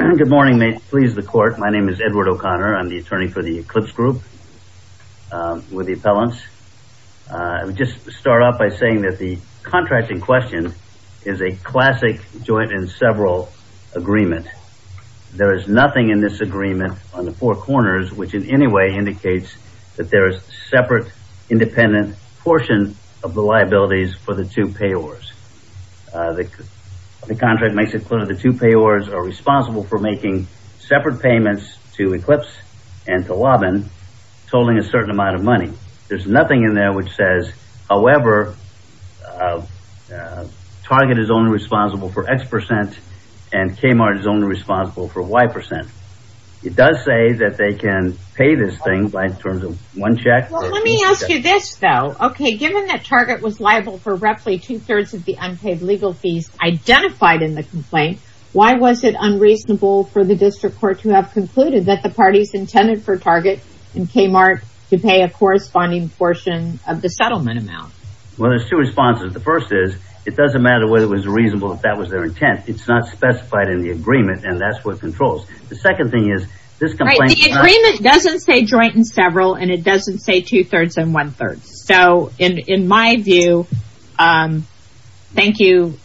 Good morning may it please the court my name is Edward O'Connor I'm the attorney for the Eclipse Group with the appellants. I would just start off by saying that the contract in question is a classic joint in several agreement. There is nothing in this agreement on the four corners which in any way indicates that there is separate independent portion of the liabilities for the two payors. The contract makes it clear the two payors are responsible for making separate payments to Eclipse and to Lobin tolling a certain amount of money. There's nothing in there which says however Target is only responsible for X percent and Kmart is only responsible for Y percent. It does say that they can pay this thing by terms of one check. Let me ask you this though okay given that Target was liable for roughly two-thirds of the unpaid legal fees identified in the complaint why was it unreasonable for the district court to have concluded that the parties intended for Target and Kmart to pay a corresponding portion of the settlement amount? Well there's two responses the first is it doesn't matter whether it was reasonable if that was their intent it's not specified in the agreement and that's what controls. The second thing is this agreement doesn't say joint in several and it doesn't say two-thirds and one-third so in in my view thank you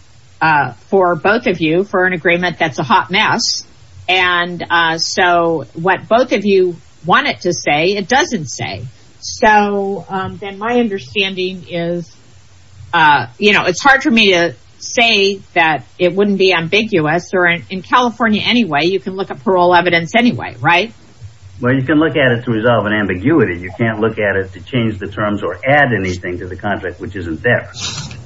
for both of you for an agreement that's a hot mess and so what both of you want it to say it doesn't say so then my understanding is you know it's hard for me to say that it wouldn't be ambiguous or in California anyway you can look at parole evidence anyway right? Well you can look at it to resolve an ambiguity you can't look at it to change the terms or add anything to the contract which isn't there.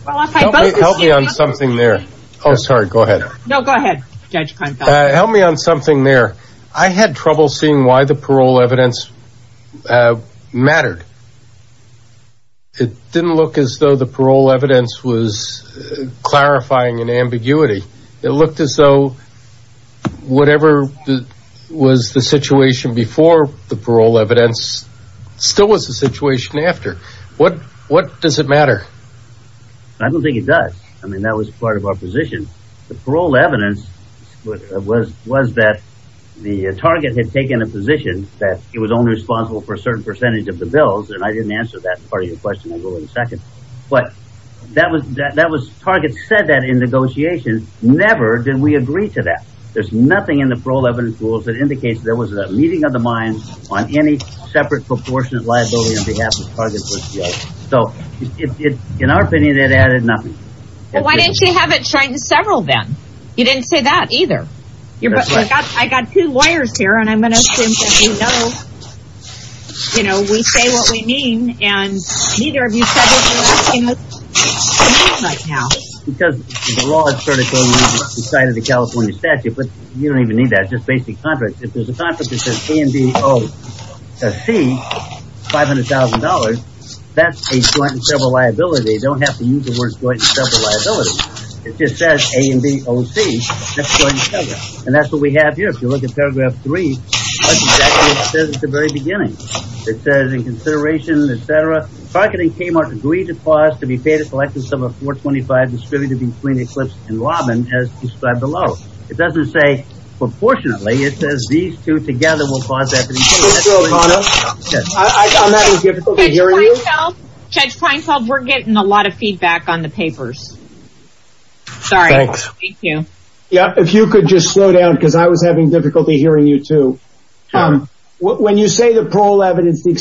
Help me on something there oh sorry go ahead no go ahead help me on something there I had trouble seeing why the parole evidence mattered it didn't look as though the parole evidence was clarifying an ambiguity it looked as though whatever was the situation before the parole evidence still was the situation after what what does it matter? I don't think it does I mean that was part of our position the parole evidence was was that the target had taken a position that it was only responsible for a certain percentage of the bills and I didn't answer that part of your question I'll go in a second but that was that that was target said that in negotiation never did we agree to that there's nothing in the parole evidence rules that indicates there was a meeting of the mind on any separate proportion of liability on behalf of the target so in our opinion it added nothing. Why didn't you have it tried in several then? You didn't say that either. I got two lawyers here and I'm going to assume that you know you know we say what we mean and neither of you said what you were asking us to mean right now. Because the law is sort of decided the California statute but you don't even need that just basic contract if there's a contract that says A and B, O, C, five hundred thousand dollars that's a joint and several liability they don't have to use the words joint and several liability it just says A and B, O, C, that's a joint and several and that's what we have here if you look at paragraph three that's exactly what it says at the very beginning it says in consideration etc targeting Kmart agreed to clause to be between Eclipse and Lobin as described below it doesn't say proportionately it says these two together will cause that. Judge Kleinfeld we're getting a lot of feedback on the papers. Sorry. Thank you. Yeah if you could just slow down because I was having difficulty hearing you too. When you say the parole evidence the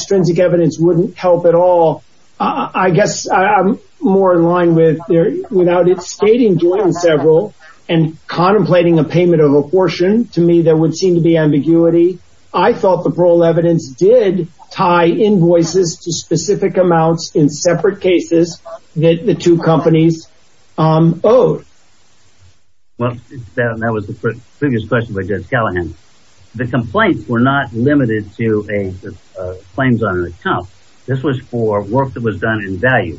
stating joint and several and contemplating a payment of apportion to me there would seem to be ambiguity I thought the parole evidence did tie invoices to specific amounts in separate cases that the two companies owed. Well that was the previous question by Judge Callahan. The complaints were not limited to a claims on an account this was for work that was done in value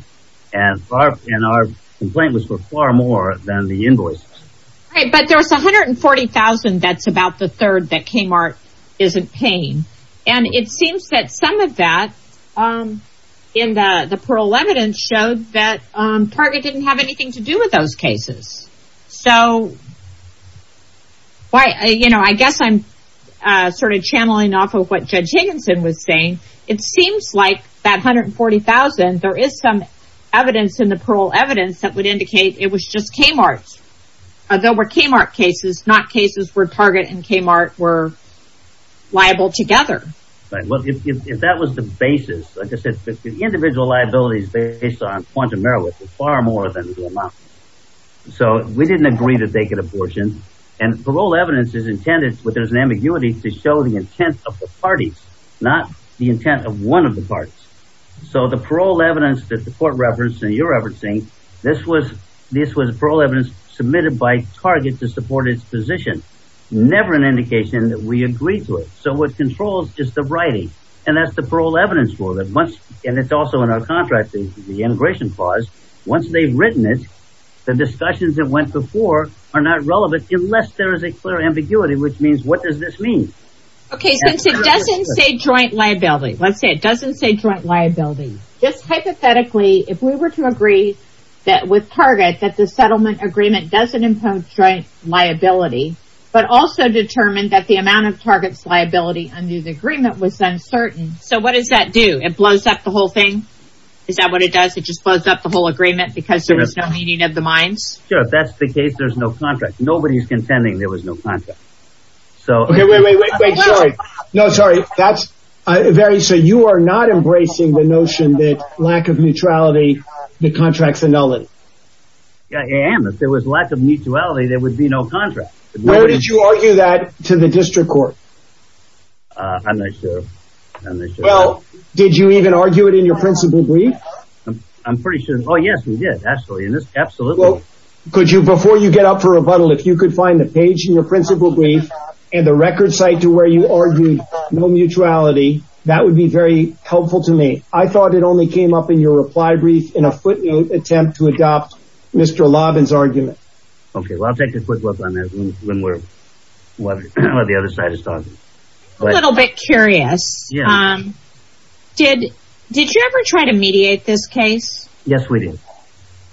and our complaint was for far more than the invoice. But there's 140,000 that's about the third that Kmart isn't paying and it seems that some of that in the parole evidence showed that Target didn't have anything to do with those cases so why you know I guess I'm sort of channeling off of what Judge Higginson was saying it seems like that 140,000 there is some evidence in the parole evidence that would indicate it was just Kmart. There were Kmart cases not cases where Target and Kmart were liable together. Well if that was the basis like I said the individual liabilities based on quantum error was far more than the amount. So we didn't agree that they could apportion and parole evidence is intended but there's an ambiguity to show the intent of the parties not the intent of one of the parties. So the parole evidence that the court referenced and you're referencing this was this was parole evidence submitted by Target to support its position. Never an indication that we agreed to it. So what controls is the writing and that's the parole evidence for that much and it's also in our contract the integration clause once they've written it the discussions that went before are not relevant unless there is a clear ambiguity which means what does this mean? Okay since it doesn't say joint liability let's say it we were to agree that with Target that the settlement agreement doesn't impose joint liability but also determined that the amount of Target's liability under the agreement was uncertain. So what does that do? It blows up the whole thing? Is that what it does? It just blows up the whole agreement because there is no meaning of the minds? Sure if that's the case there's no contract. Nobody's contending there was no contract. So okay wait wait wait wait sorry no sorry that's very so you are not embracing the notion that lack of neutrality the contracts annulled. Yeah I am if there was lack of mutuality there would be no contract. Where did you argue that to the district court? I'm not sure. Well did you even argue it in your principal brief? I'm pretty sure oh yes we did actually in this absolutely. Could you before you get up for rebuttal if you could find the page in your principal brief and the record site to where you argued no neutrality that would be very helpful to me. I thought it only came up in your reply brief in a footnote attempt to adopt Mr. Lobbin's argument. Okay well I'll take a quick look on this when we're what the other side is talking. A little bit curious did did you ever try to mediate this case? Yes we did.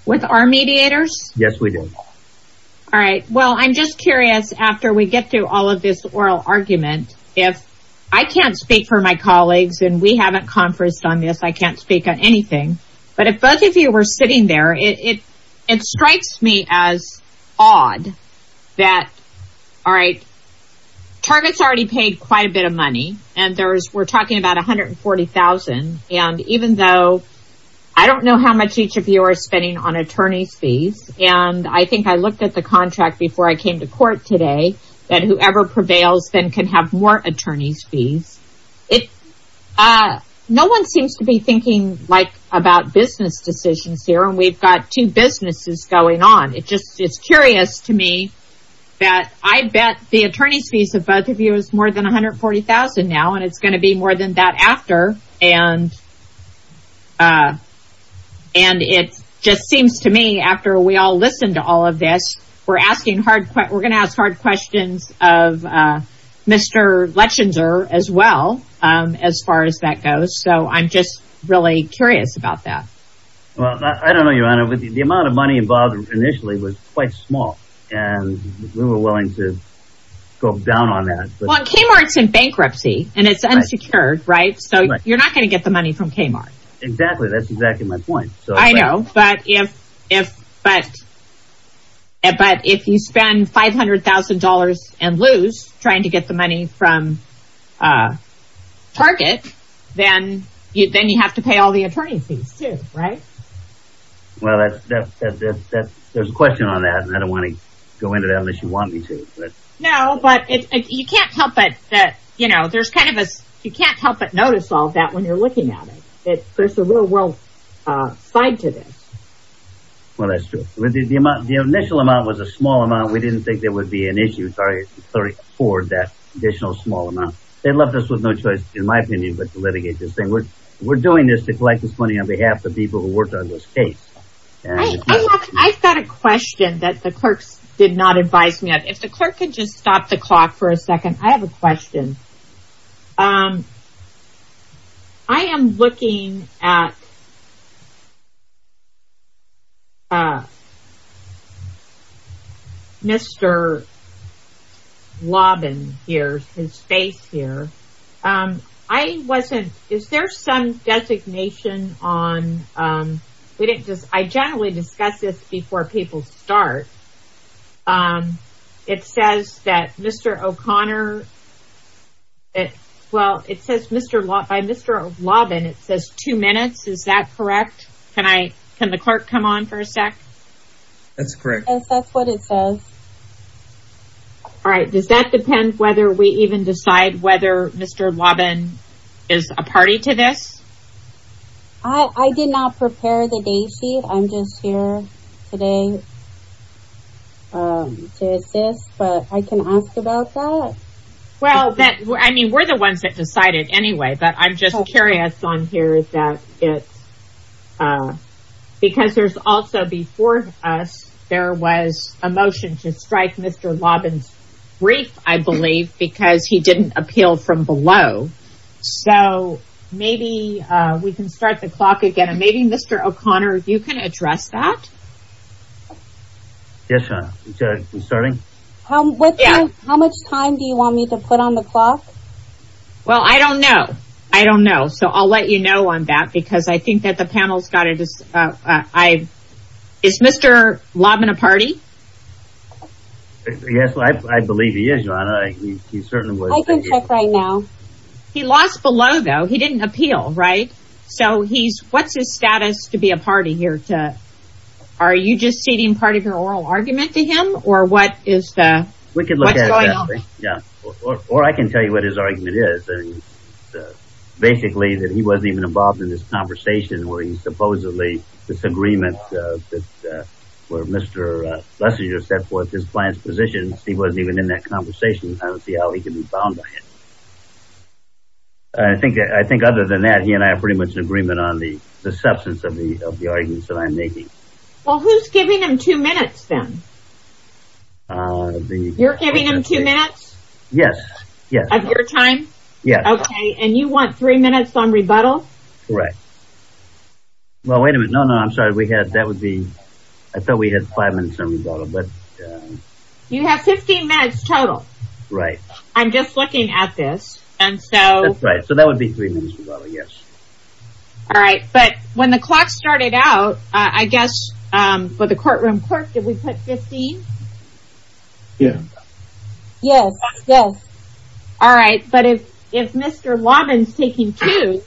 With our mediators? Yes we did. All right well I'm just curious after we get through all of this oral argument if I can't speak for my colleagues and we haven't conferenced on this I can't speak on anything but if both of you were sitting there it it strikes me as odd that all right targets already paid quite a bit of money and there's we're talking about a hundred and forty thousand and even though I don't know how much each of you are spending on attorney's fees and I think I looked at the contract before I came to court today that whoever prevails then can have more attorney's fees it no one seems to be thinking like about business decisions here and we've got two businesses going on it just it's curious to me that I bet the attorney's fees of both of you is more than 140,000 now and it's going to be more than that after and and it just seems to me after we all listen to all of this we're asking hard we're gonna ask hard questions of mr. Lechenzer as well as far as that goes so I'm just really curious about that well I don't know your honor but the amount of money involved initially was quite small and we were willing to go down on that well Kmart's in bankruptcy and it's unsecured right so you're not gonna get the money from Kmart exactly that's exactly my point so I know but if if but but if you spend five hundred thousand dollars and lose trying to get the money from Target then you then you have to pay all the attorney's fees right well that's there's a question on that and I don't want to go into that unless you want me to but no but you can't help but that you know there's kind of us you you're looking at it it there's a real-world side to this well that's true the amount the initial amount was a small amount we didn't think there would be an issue sorry sorry for that additional small amount they left us with no choice in my opinion but to litigate this thing we're we're doing this to collect this money on behalf of people who worked on this case I've got a question that the clerks did not advise me of if the clerk could just stop the clock for a second I have a question I am looking at mr. Lobbin here's his face here I wasn't is there some designation on we didn't I generally discuss this before people start it says that mr. O'Connor it well it says mr. lot by mr. Lobbin it says two minutes is that correct can I can the clerk come on for a sec that's correct that's what it says all right does that depend whether we even decide whether mr. Lobbin is a party to this I did not prepare the date sheet I'm just here today to assist but I can ask about that well that I mean we're the ones that decided anyway but I'm just curious on here is that it because there's also before us there was a motion to strike mr. Lobbins brief I believe because he didn't appeal from below so maybe we can start the clock again and maybe mr. O'Connor if you can address that yes starting how much time do you want me to put on the clock well I don't know I don't know so I'll let you know on that because I think that the panel's got it is I is mr. Lobbin a party yes I believe he is right now he lost below though he what's his status to be a party here to are you just stating part of your oral argument to him or what is that we could look at yeah or I can tell you what his argument is basically that he wasn't even involved in this conversation where he supposedly this agreement that where mr. Lester you're set forth his plans positions he wasn't even in that conversation I don't see how he can be on the the substance of the of the arguments that I'm making well who's giving him two minutes then you're giving him two minutes yes yes I'm your time yeah okay and you want three minutes on rebuttal right well wait a minute no no I'm sorry we had that would be I thought we had five minutes on rebuttal but you have 15 minutes total right I'm just looking at this and so right so that would be three minutes yes all right but when the clock started out I guess for the courtroom court did we put 15 yeah yes yes all right but if if mr. Lobbins taking two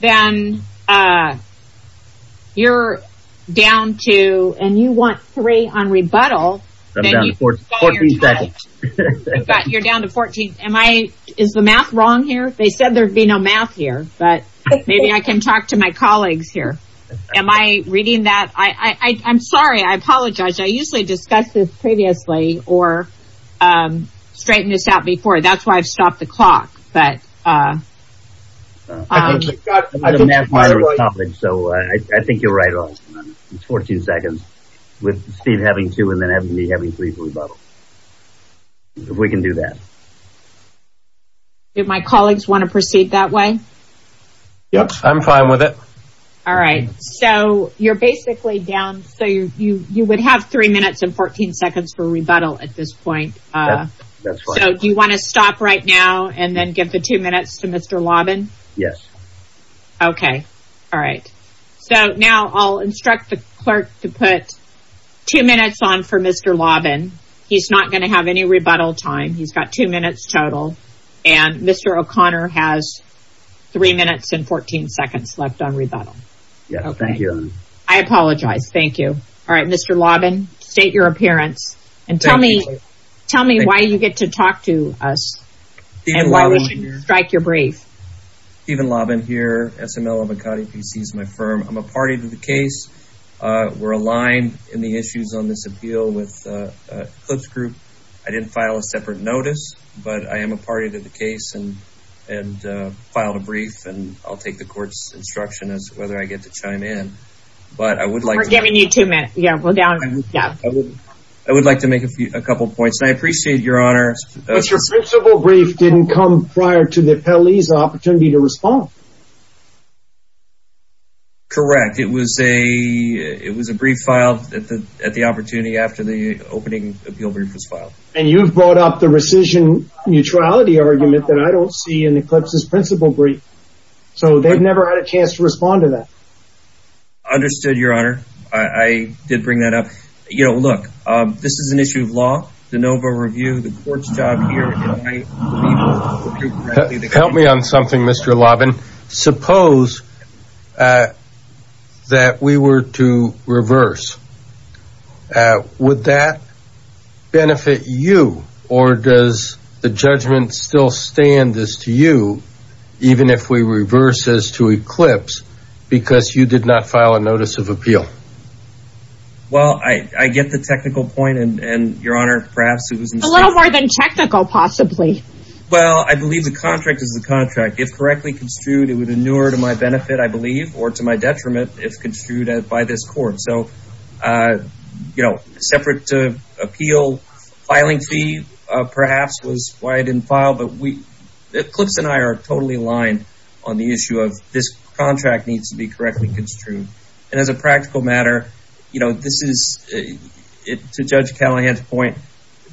then you're down to and you want three on rebuttal you're down to 14 am I is the math wrong here they said there'd be no math here but maybe I can talk to my colleagues here am I reading that I I'm sorry I apologize I usually discuss this previously or straighten this out before that's why I've stopped the clock but so I think you're right on it's 14 seconds with Steve having two and then having me having three for rebuttal if we can do that if my colleagues want to proceed that way yes I'm fine with it all right so you're basically down so you you you would have three minutes and 14 seconds for rebuttal at this point so do you want to stop right now and then give the two minutes to mr. Lobbin yes okay all right so now I'll instruct the clerk to put two minutes on for mr. Lobbin he's not gonna have any rebuttal time he's got two minutes total and mr. O'Connor has three minutes and 14 seconds left on rebuttal yeah thank you I apologize thank you all right mr. Lobbin state your appearance and tell me tell me why you get to talk to us and why we should strike your brief even Lobbin here SML of Akati PC's my firm I'm a party to the case were aligned in the issues on this appeal with clips group I didn't file a separate notice but I am a party to the case and and filed a brief and I'll take the court's instruction as whether I get to chime in but I would like giving you two minutes yeah we're down yeah I would like to make a few a couple points and I appreciate your honors your principal brief didn't come prior to the police opportunity to respond correct it was a it was a brief filed at the at the opportunity after the opening appeal brief was filed and you've brought up the rescission neutrality argument that I don't see in the clips is principal brief so they've never had a chance to respond to that understood your honor I did bring that up you know look this is an issue of law the Nova review the suppose that we were to reverse would that benefit you or does the judgment still stand this to you even if we reverse this to eclipse because you did not file a notice of appeal well I get the technical point and your honor perhaps it was a little more than technical possibly well I believe the contract if correctly construed it would inure to my benefit I believe or to my detriment if construed by this court so you know separate to appeal filing fee perhaps was why I didn't file but we clips and I are totally aligned on the issue of this contract needs to be correctly construed and as a practical matter you know this is it to judge Callahan's point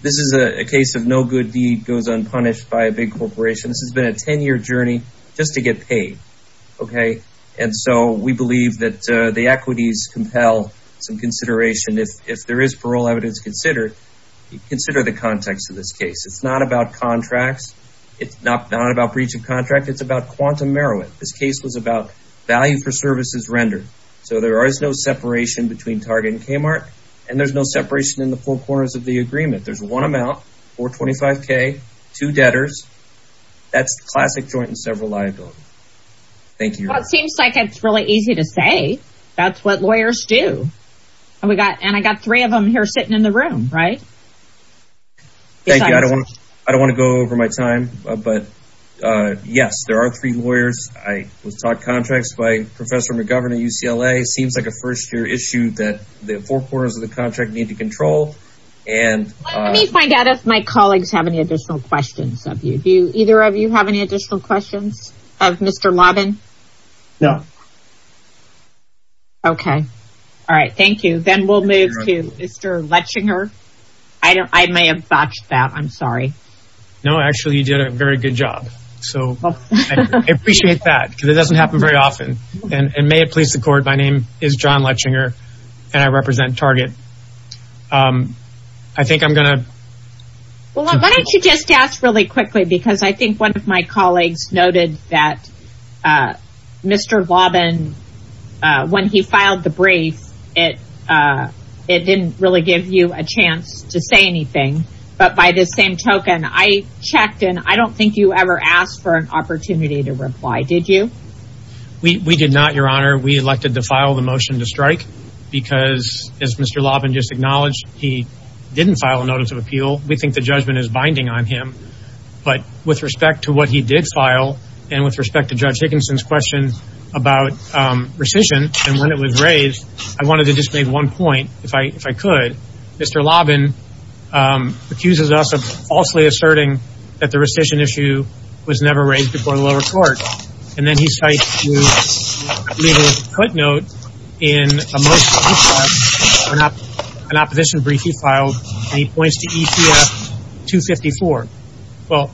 this is a case of no good deed goes unpunished by a big corporation this has been a 10-year journey just to get paid okay and so we believe that the equities compel some consideration if there is parole evidence considered you consider the context of this case it's not about contracts it's not about breach of contract it's about quantum merriment this case was about value for services rendered so there is no separation between target and Kmart and there's no 25k two debtors that's classic joint and several liability thank you it seems like it's really easy to say that's what lawyers do and we got and I got three of them here sitting in the room right thank you I don't I don't want to go over my time but yes there are three lawyers I was taught contracts by professor McGovern at UCLA seems like a first-year issue that the four quarters of the contract need to control and let me find out if my colleagues have any additional questions of you do either of you have any additional questions of mr. Lobbin no okay all right thank you then we'll move to mr. Letchinger I don't I may have botched that I'm sorry no actually you did a very good job so appreciate that because it doesn't happen very often and may it accord my name is John Letchinger and I represent target I think I'm gonna well why don't you just ask really quickly because I think one of my colleagues noted that mr. Lobbin when he filed the brief it it didn't really give you a chance to say anything but by the same token I checked and I don't think you ever asked for an opportunity to reply did you we did not your honor we elected to file the motion to strike because as mr. Lobbin just acknowledged he didn't file a notice of appeal we think the judgment is binding on him but with respect to what he did file and with respect to judge Dickinson's question about rescission and when it was raised I wanted to just make one point if I if I could mr. Lobbin accuses us of falsely asserting that the rescission issue was never raised before the lower court and then he cites a footnote in an opposition brief he filed he points to ECF 254 well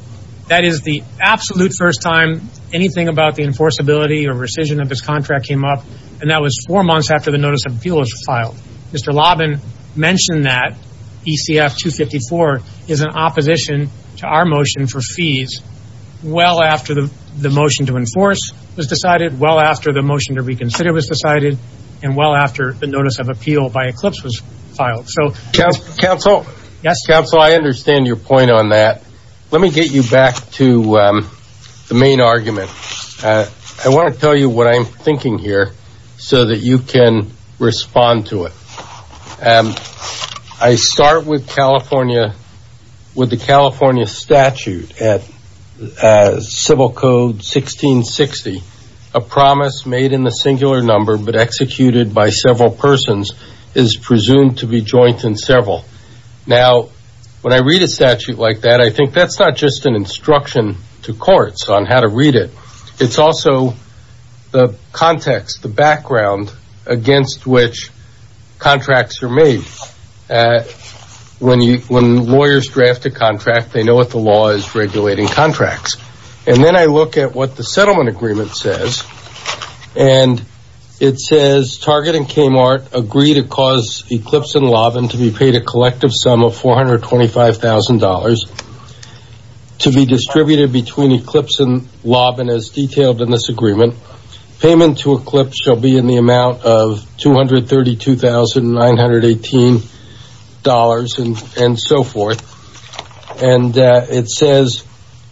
that is the absolute first time anything about the enforceability or rescission of this contract came up and that was four months after the notice of appeal was filed mr. Lobbin mentioned that ECF 254 is an opposition to our motion for fees well after the the motion to enforce was decided well after the motion to reconsider was decided and well after the notice of appeal by Eclipse was filed so council yes council I understand your point on that let me get you back to the main argument I want to tell you what I'm thinking here so that you can respond to it and I start with California with the California statute at civil code 1660 a promise made in the singular number but executed by several persons is presumed to be joint in several now when I read a statute like that I think that's not just an instruction to courts on how to read it it's also the context the contracts are made when you when lawyers draft a contract they know what the law is regulating contracts and then I look at what the settlement agreement says and it says targeting Kmart agree to cause Eclipse and Lobbin to be paid a collective sum of four hundred twenty five thousand dollars to be distributed between Eclipse and Lobbin as detailed in this agreement payment to Eclipse shall be in the amount of two hundred thirty two thousand nine hundred eighteen dollars and and so forth and it says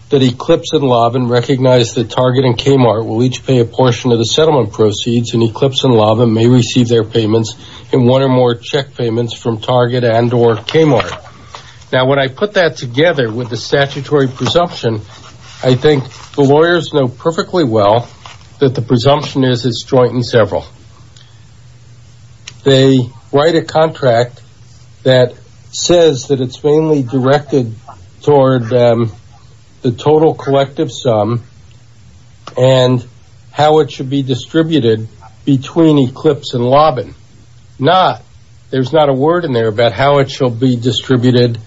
that Eclipse and Lobbin recognize the targeting Kmart will each pay a portion of the settlement proceeds and Eclipse and Lobbin may receive their payments in one or more check payments from target and or Kmart now when I put that together with the statutory presumption I several they write a contract that says that it's mainly directed toward the total collective sum and how it should be distributed between Eclipse and Lobbin not there's not a word in there about how it shall be distributed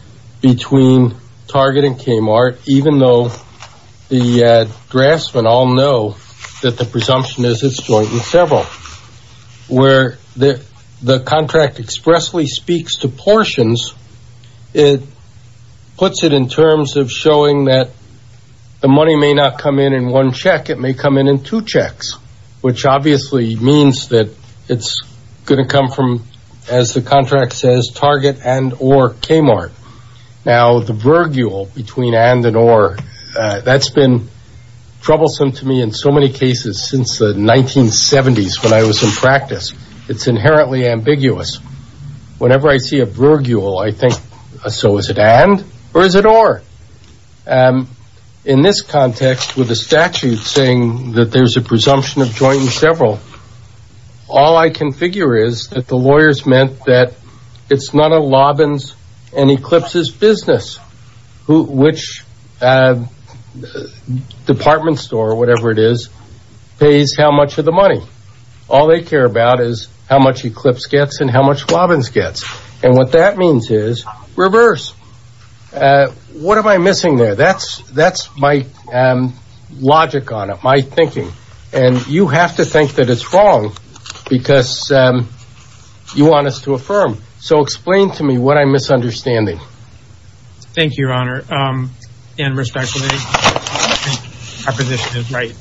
between targeting Kmart even though the draftsman all know that the presumption is it's going with several where the the contract expressly speaks to portions it puts it in terms of showing that the money may not come in in one check it may come in in two checks which obviously means that it's going to come from as the contract says target and or Kmart now the virgule between and and or that's been troublesome to me in so many cases since the 1970s when I was in practice it's inherently ambiguous whenever I see a virgule I think so is it and or is it or in this context with the statute saying that there's a presumption of joint and several all I can figure is that the lawyers meant that it's not a Lobbins and Eclipse's business which department store or whatever it is pays how much of the money all they care about is how much Eclipse gets and how much Lobbins gets and what that means is reverse what am I missing there that's that's my logic on it my thinking and you have to think that it's wrong because you want us to affirm so explain to me what I'm misunderstanding thank you your honor in respect right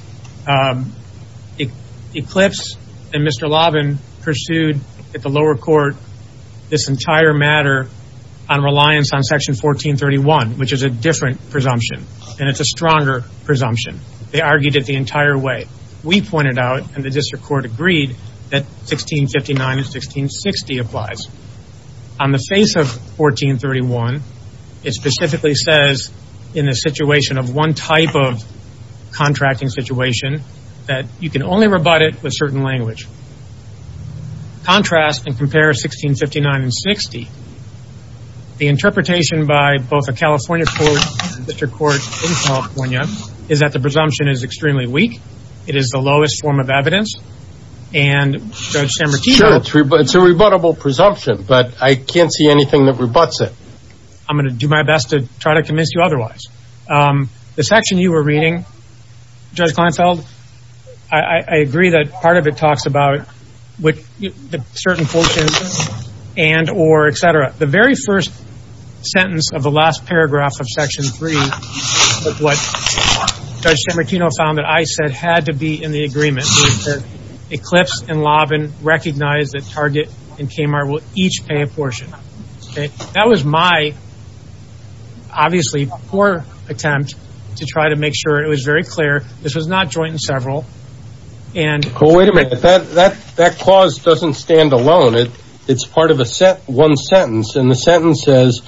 it Eclipse and Mr. Lobbins pursued at the lower court this entire matter on reliance on section 1431 which is a different presumption and it's a stronger presumption they argued it the court agreed that 1659 and 1660 applies on the face of 1431 it specifically says in a situation of one type of contracting situation that you can only rebut it with certain language contrast and compare 1659 and 60 the interpretation by both a California school district court in California is that the presumption is extremely weak it is the lowest form of evidence and it's a rebuttable presumption but I can't see anything that rebuts it I'm gonna do my best to try to convince you otherwise the section you were reading just I felt I agree that part of it talks about what certain quotations and or etc the very first sentence of the last paragraph of section 3 found that I said had to be in the agreement Eclipse and Lobbin recognize that Target and Kmart will each pay a portion that was my obviously poor attempt to try to make sure it was very clear this is not joint and several and that that that clause doesn't stand alone it it's part of a set one sentence and the sentence says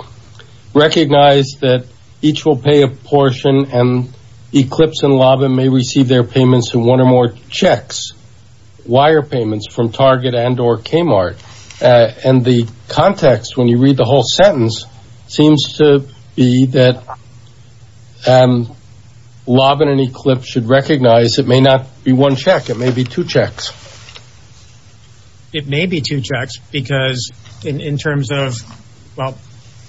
recognize that each will pay a portion and Eclipse and Lobbin may receive their payments and one or more checks wire payments from Target and or Kmart and the context when you read the whole sentence seems to be that Lobbin and Eclipse should recognize it may not be one check it may be two checks because in terms of well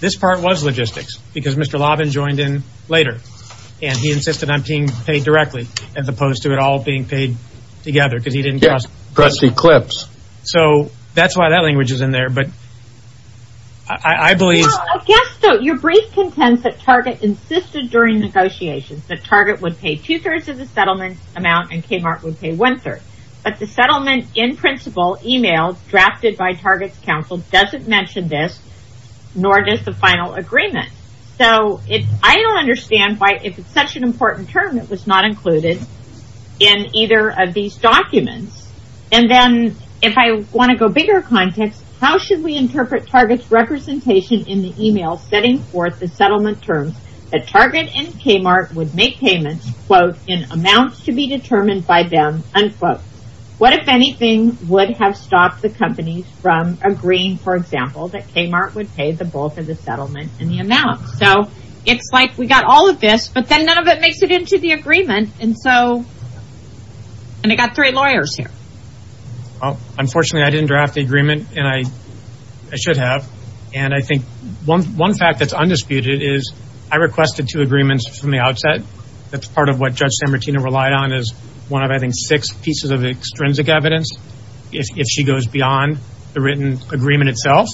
this part was logistics because Mr. Lobbin joined in later and he insisted on being paid directly as opposed to it all being paid together because he didn't just press Eclipse so that's why that language is in there but I believe your brief content that Target insisted during negotiations that Target would pay two-thirds of the settlement amount and Kmart would pay one-third but the settlement in principle email drafted by Target's counsel doesn't mention this nor does the final agreement so if I don't understand why if it's such an important term that was not included in either of these documents and then if I want to go bigger context how should we interpret Target's representation in the email setting forth the settlement terms that Target and Kmart would make payments quote in amounts to be determined by them unquote what if anything would have stopped the companies from agreeing for example that Kmart would pay the bulk of the settlement in the amount so it's like we got all of this but then none of it makes it into the agreement and so and I got three lawyers here unfortunately I didn't draft the agreement and I I should have and I think one one fact that's undisputed is I requested two agreements from the outset that's part of what judge San Martino relied on is one of I think six pieces of extrinsic evidence if she goes beyond the written agreement itself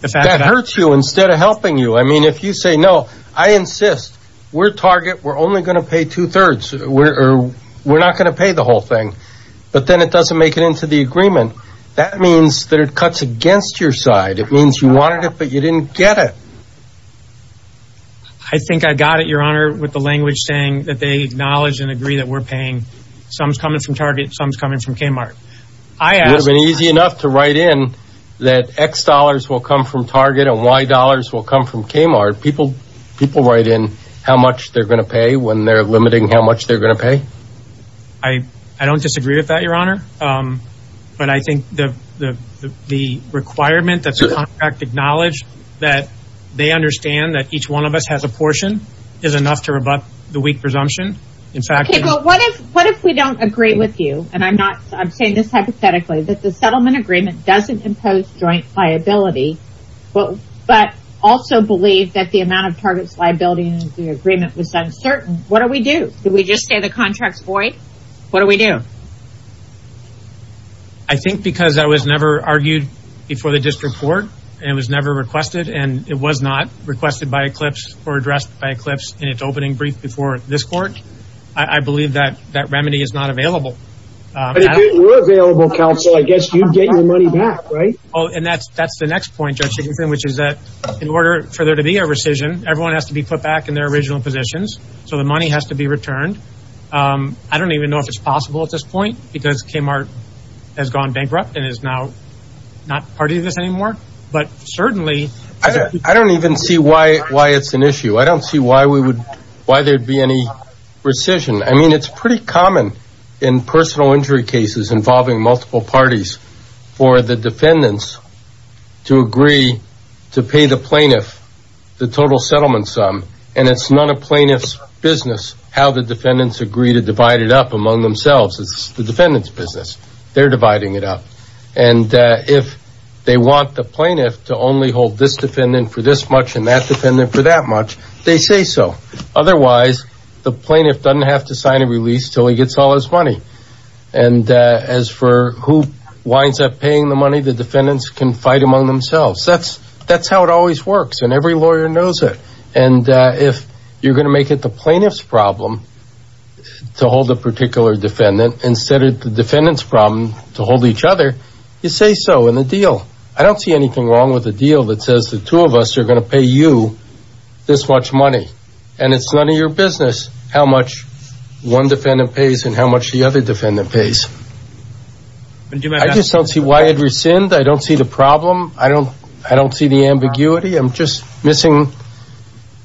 the fact that hurts you instead of helping you I mean if you say no I insist we're Target we're only going to pay two-thirds we're not going to pay the whole thing but then it doesn't make it into the agreement that means that it cuts against your side it I think I got it your honor with the language saying that they acknowledge and agree that we're paying some is coming from Target some is coming from Kmart I have been easy enough to write in that X dollars will come from Target and Y dollars will come from Kmart people people write in how much they're gonna pay when they're limiting how much they're gonna pay I I don't disagree with that your honor but I think the the requirement that's a contract acknowledged that they understand that each one of us has a portion is enough to rebut the weak presumption in fact what if what if we don't agree with you and I'm not I'm saying this hypothetically that the settlement agreement doesn't impose joint liability well but also believe that the amount of targets liability in the agreement was uncertain what do we do did we just say the contracts void what do we do I think because I was never argued before the never requested and it was not requested by Eclipse or addressed by Eclipse and it's opening brief before this court I believe that that remedy is not available available counsel I guess you get your money back right oh and that's that's the next point judging thing which is that in order for there to be a rescission everyone has to be put back in their original positions so the money has to be returned I don't even know if it's possible at this point because Kmart has gone bankrupt and is now not part of this anymore but certainly I don't even see why why it's an issue I don't see why we would why there'd be any rescission I mean it's pretty common in personal injury cases involving multiple parties for the defendants to agree to pay the plaintiff the total settlement sum and it's not a plaintiff's business how the defendants agree to divide it up among themselves it's the defendants business they're the plaintiff to only hold this defendant for this much and that defendant for that much they say so otherwise the plaintiff doesn't have to sign a release till he gets all his money and as for who winds up paying the money the defendants can fight among themselves that's that's how it always works and every lawyer knows it and if you're gonna make it the plaintiff's problem to hold a particular defendant instead of the defendants problem to I don't see anything wrong with a deal that says the two of us are gonna pay you this much money and it's none of your business how much one defendant pays and how much the other defendant pays I just don't see why it rescind I don't see the problem I don't I don't see the ambiguity I'm just missing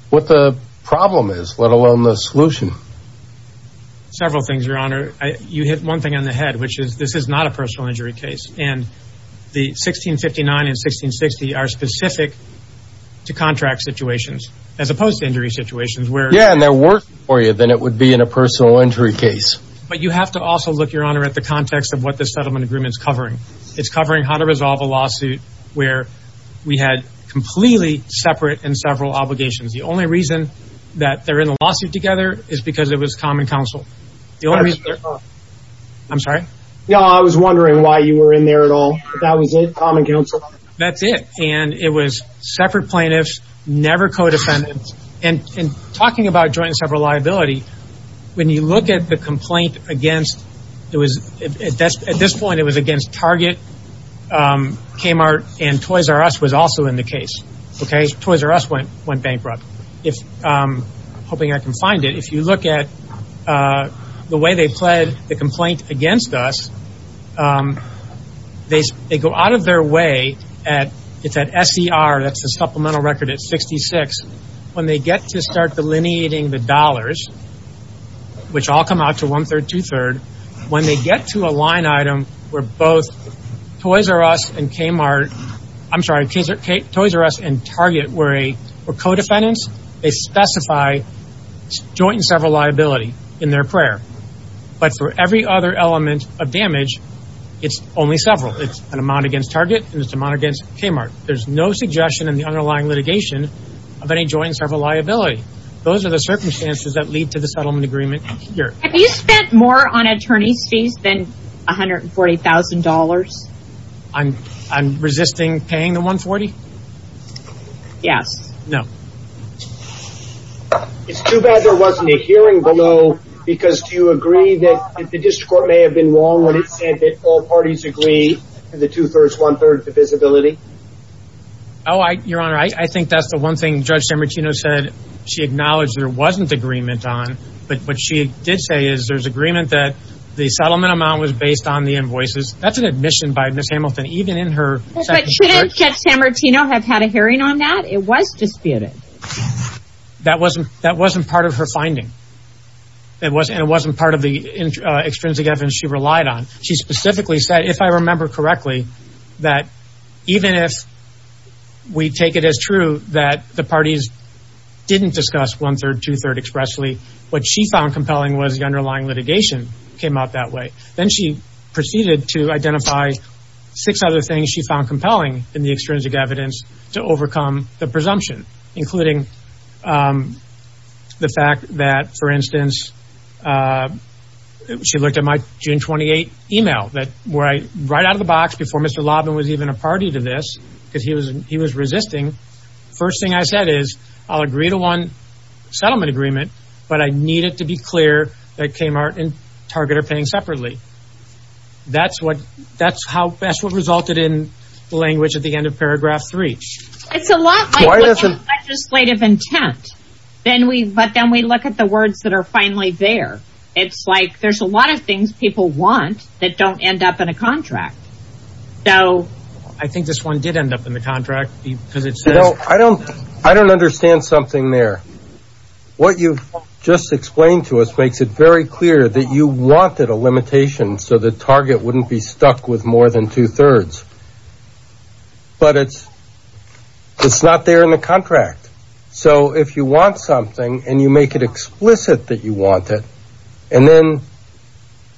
what the problem is let alone the solution several things your honor you hit one thing on the head which is this is not a personal injury case and the 1659 and 1660 are specific to contract situations as opposed to injury situations where yeah and they're working for you then it would be in a personal injury case but you have to also look your honor at the context of what the settlement agreements covering it's covering how to resolve a lawsuit where we had completely separate and several obligations the only reason that they're in a lawsuit together is because it was common counsel I'm sorry yeah I was wondering why you were in there at all that was it that's it and it was separate plaintiffs never co-defendants and talking about joint and several liability when you look at the complaint against it was at this point it was against Target Kmart and Toys R Us was also in the case okay Toys R Us went bankrupt if hoping I can find it if you look at the way they pled the complaint against us they go out of their way at it's at SCR that's a supplemental record at 66 when they get to start delineating the dollars which all come out to one-third two-third when they get to a line item where both Toys R Us and Target were co-defendants they specify joint and several liability in their prayer but for every other element of damage it's only several it's an amount against Target and it's amount against Kmart there's no suggestion in the underlying litigation of any joint and several liability those are the circumstances that lead to the settlement agreement here have you spent more on attorney's fees than a hundred and forty thousand dollars I'm I'm paying the 140 yes no it's too bad there wasn't a hearing below because do you agree that the district court may have been wrong when it said that all parties agree to the two-thirds one-third divisibility oh I your honor I think that's the one thing judge San Martino said she acknowledged there wasn't agreement on but what she did say is there's agreement that the settlement amount was based on the invoices that's an admission by miss Hamilton even in her should have had a hearing on that it was disputed that wasn't that wasn't part of her finding it was and it wasn't part of the extrinsic evidence she relied on she specifically said if I remember correctly that even if we take it as true that the parties didn't discuss one-third two-third expressly what she found compelling was the underlying litigation came out that way then she proceeded to identify six other things she found compelling in the extrinsic evidence to overcome the presumption including the fact that for instance she looked at my June 28 email that right right out of the box before mr. Lobb and was even a party to this because he was he was resisting first thing I said is I'll agree to one settlement agreement but I need it to be that's what that's how best what resulted in language at the end of paragraph three it's a lot legislative intent then we but then we look at the words that are finally there it's like there's a lot of things people want that don't end up in a contract so I think this one did end up in the contract because it's so I don't I don't understand something there what you've just explained to us makes it very clear that you wanted a limitation so the target wouldn't be stuck with more than two-thirds but it's it's not there in the contract so if you want something and you make it explicit that you want it and then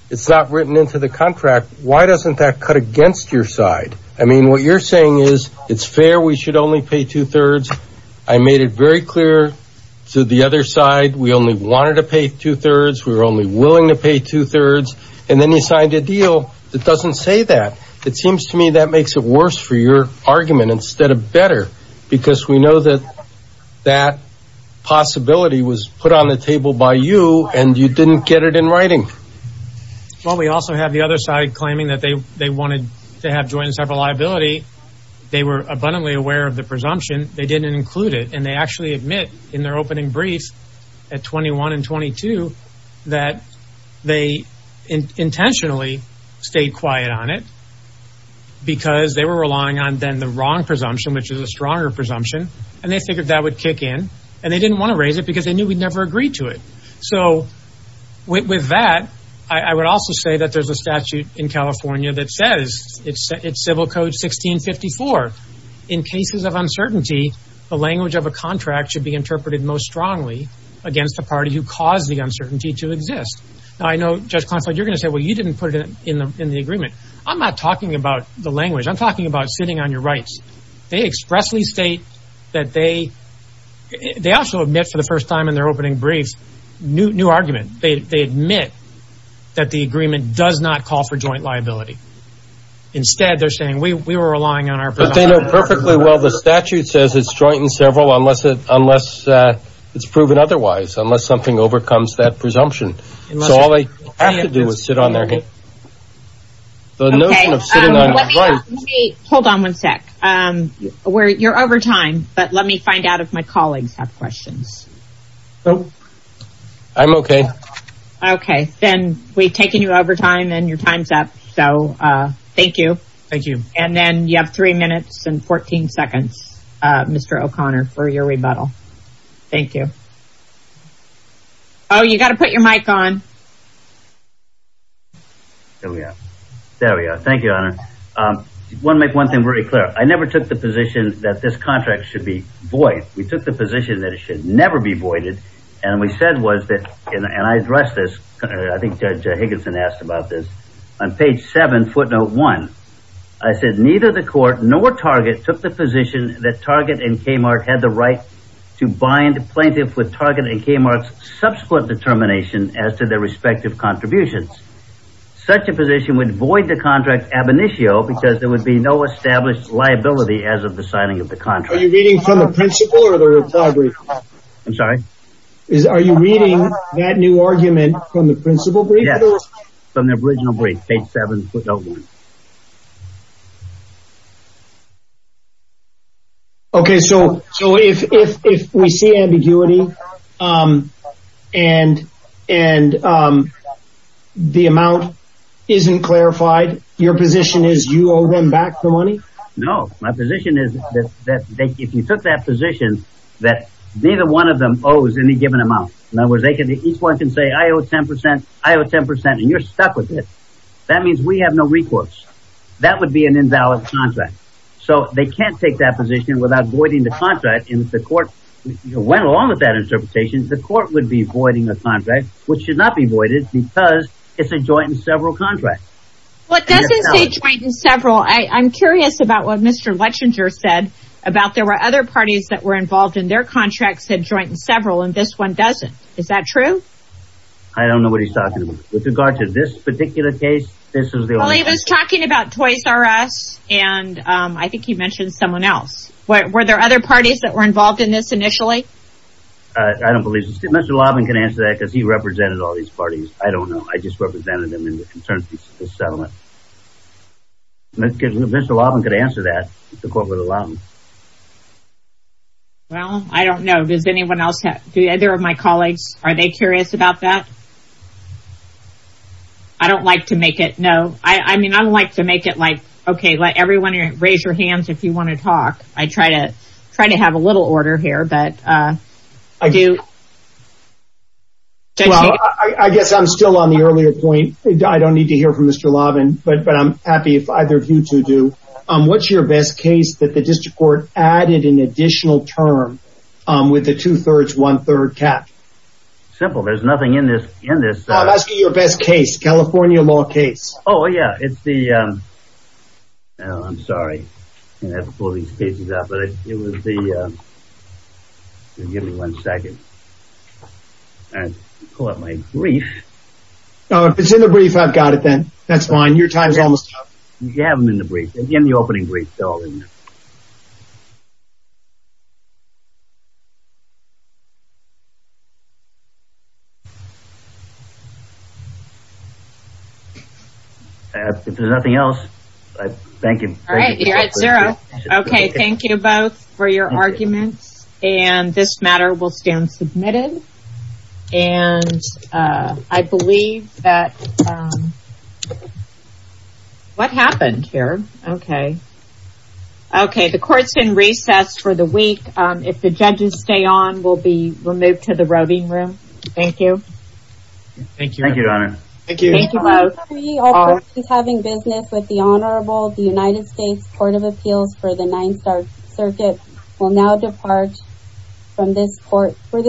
it's not written into the contract why doesn't that cut against your side I mean what you're saying is it's fair we should only pay two-thirds I made it very clear to the other side we only wanted to pay two-thirds we were only willing to pay two-thirds and then he signed a deal that doesn't say that it seems to me that makes it worse for your argument instead of better because we know that that possibility was put on the table by you and you didn't get it in writing well we also have the other side claiming that they they wanted to have joint and several liability they were abundantly aware of the presumption they didn't include it and they actually admit in their opening brief at 21 and 22 that they intentionally stayed quiet on it because they were relying on then the wrong presumption which is a stronger presumption and they figured that would kick in and they didn't want to raise it because they knew we'd never agree to it so with that I would also say that there's a statute in California that says it's it's civil code 1654 in cases of uncertainty the language of a contract should be interpreted most strongly against the party who caused the uncertainty to exist I know just conflict you're gonna say well you didn't put it in the in the agreement I'm not talking about the language I'm talking about sitting on your rights they expressly state that they they also admit for the first time in their opening brief new argument they admit that the agreement does not call for joint liability instead they're saying we were relying on our but they know perfectly well the statute says it's joint and several unless it unless it's proven otherwise unless something overcomes that presumption so all they have to do is sit on their head hold on one sec um where you're over time but let me find out if my colleagues have been we've taken you over time and your time's up so thank you thank you and then you have three minutes and 14 seconds mr. O'Connor for your rebuttal thank you oh you got to put your mic on oh yeah there we are thank you honor one make one thing very clear I never took the position that this contract should be void we took the position that it should never be voided and we said was that and I addressed this I think judge Higginson asked about this on page 7 footnote 1 I said neither the court nor Target took the position that Target and Kmart had the right to bind plaintiff with Target and Kmart's subsequent determination as to their respective contributions such a position would void the contract ab initio because there would be no established liability as of the signing of the contrary reading from I'm sorry is are you reading that new argument from the principal yes from the original brief page 7 footnote 1 okay so so if we see ambiguity and and the amount isn't clarified your position is you owe them back the money no my position that neither one of them owes any given amount in other words they can each one can say I owe 10% I owe 10% and you're stuck with it that means we have no recourse that would be an invalid contract so they can't take that position without voiding the contract in the court you went along with that interpretation the court would be voiding the contract which should not be voided because it's a joint in several contracts what doesn't say joint in several I'm curious about what mr. Lechinger said about there were other parties that were involved in their contracts had joint in several and this one doesn't is that true I don't know what he's talking about with regard to this particular case this is the only I was talking about toys are us and I think he mentioned someone else what were there other parties that were involved in this initially I don't believe mr. Lobb and can answer that because he represented all these parties I don't know I just represented them in well I don't know does anyone else have to either of my colleagues are they curious about that I don't like to make it no I mean I don't like to make it like okay let everyone here raise your hands if you want to talk I try to try to have a little order here but I do well I guess I'm still on the earlier point I don't need to hear from mr. Lobb and but but I'm happy if either of you to do what's your best case that the district court added an additional term with the two-thirds one-third cap simple there's nothing in this in this I'm asking your best case California law case oh yeah it's the I'm sorry it was the give me one second and pull up my brief it's in the brief I've got then that's fine your time is almost up you have them in the brief in the opening brief if there's nothing else thank you all right here at zero okay thank you both for your arguments and this matter will stand submitted and I believe that what happened here okay okay the court's in recess for the week if the judges stay on will be removed to the voting room thank you thank you thank you Donna thank you he's having business with the Honorable the United States Court of Appeals for the Ninth Circuit will now depart from this court where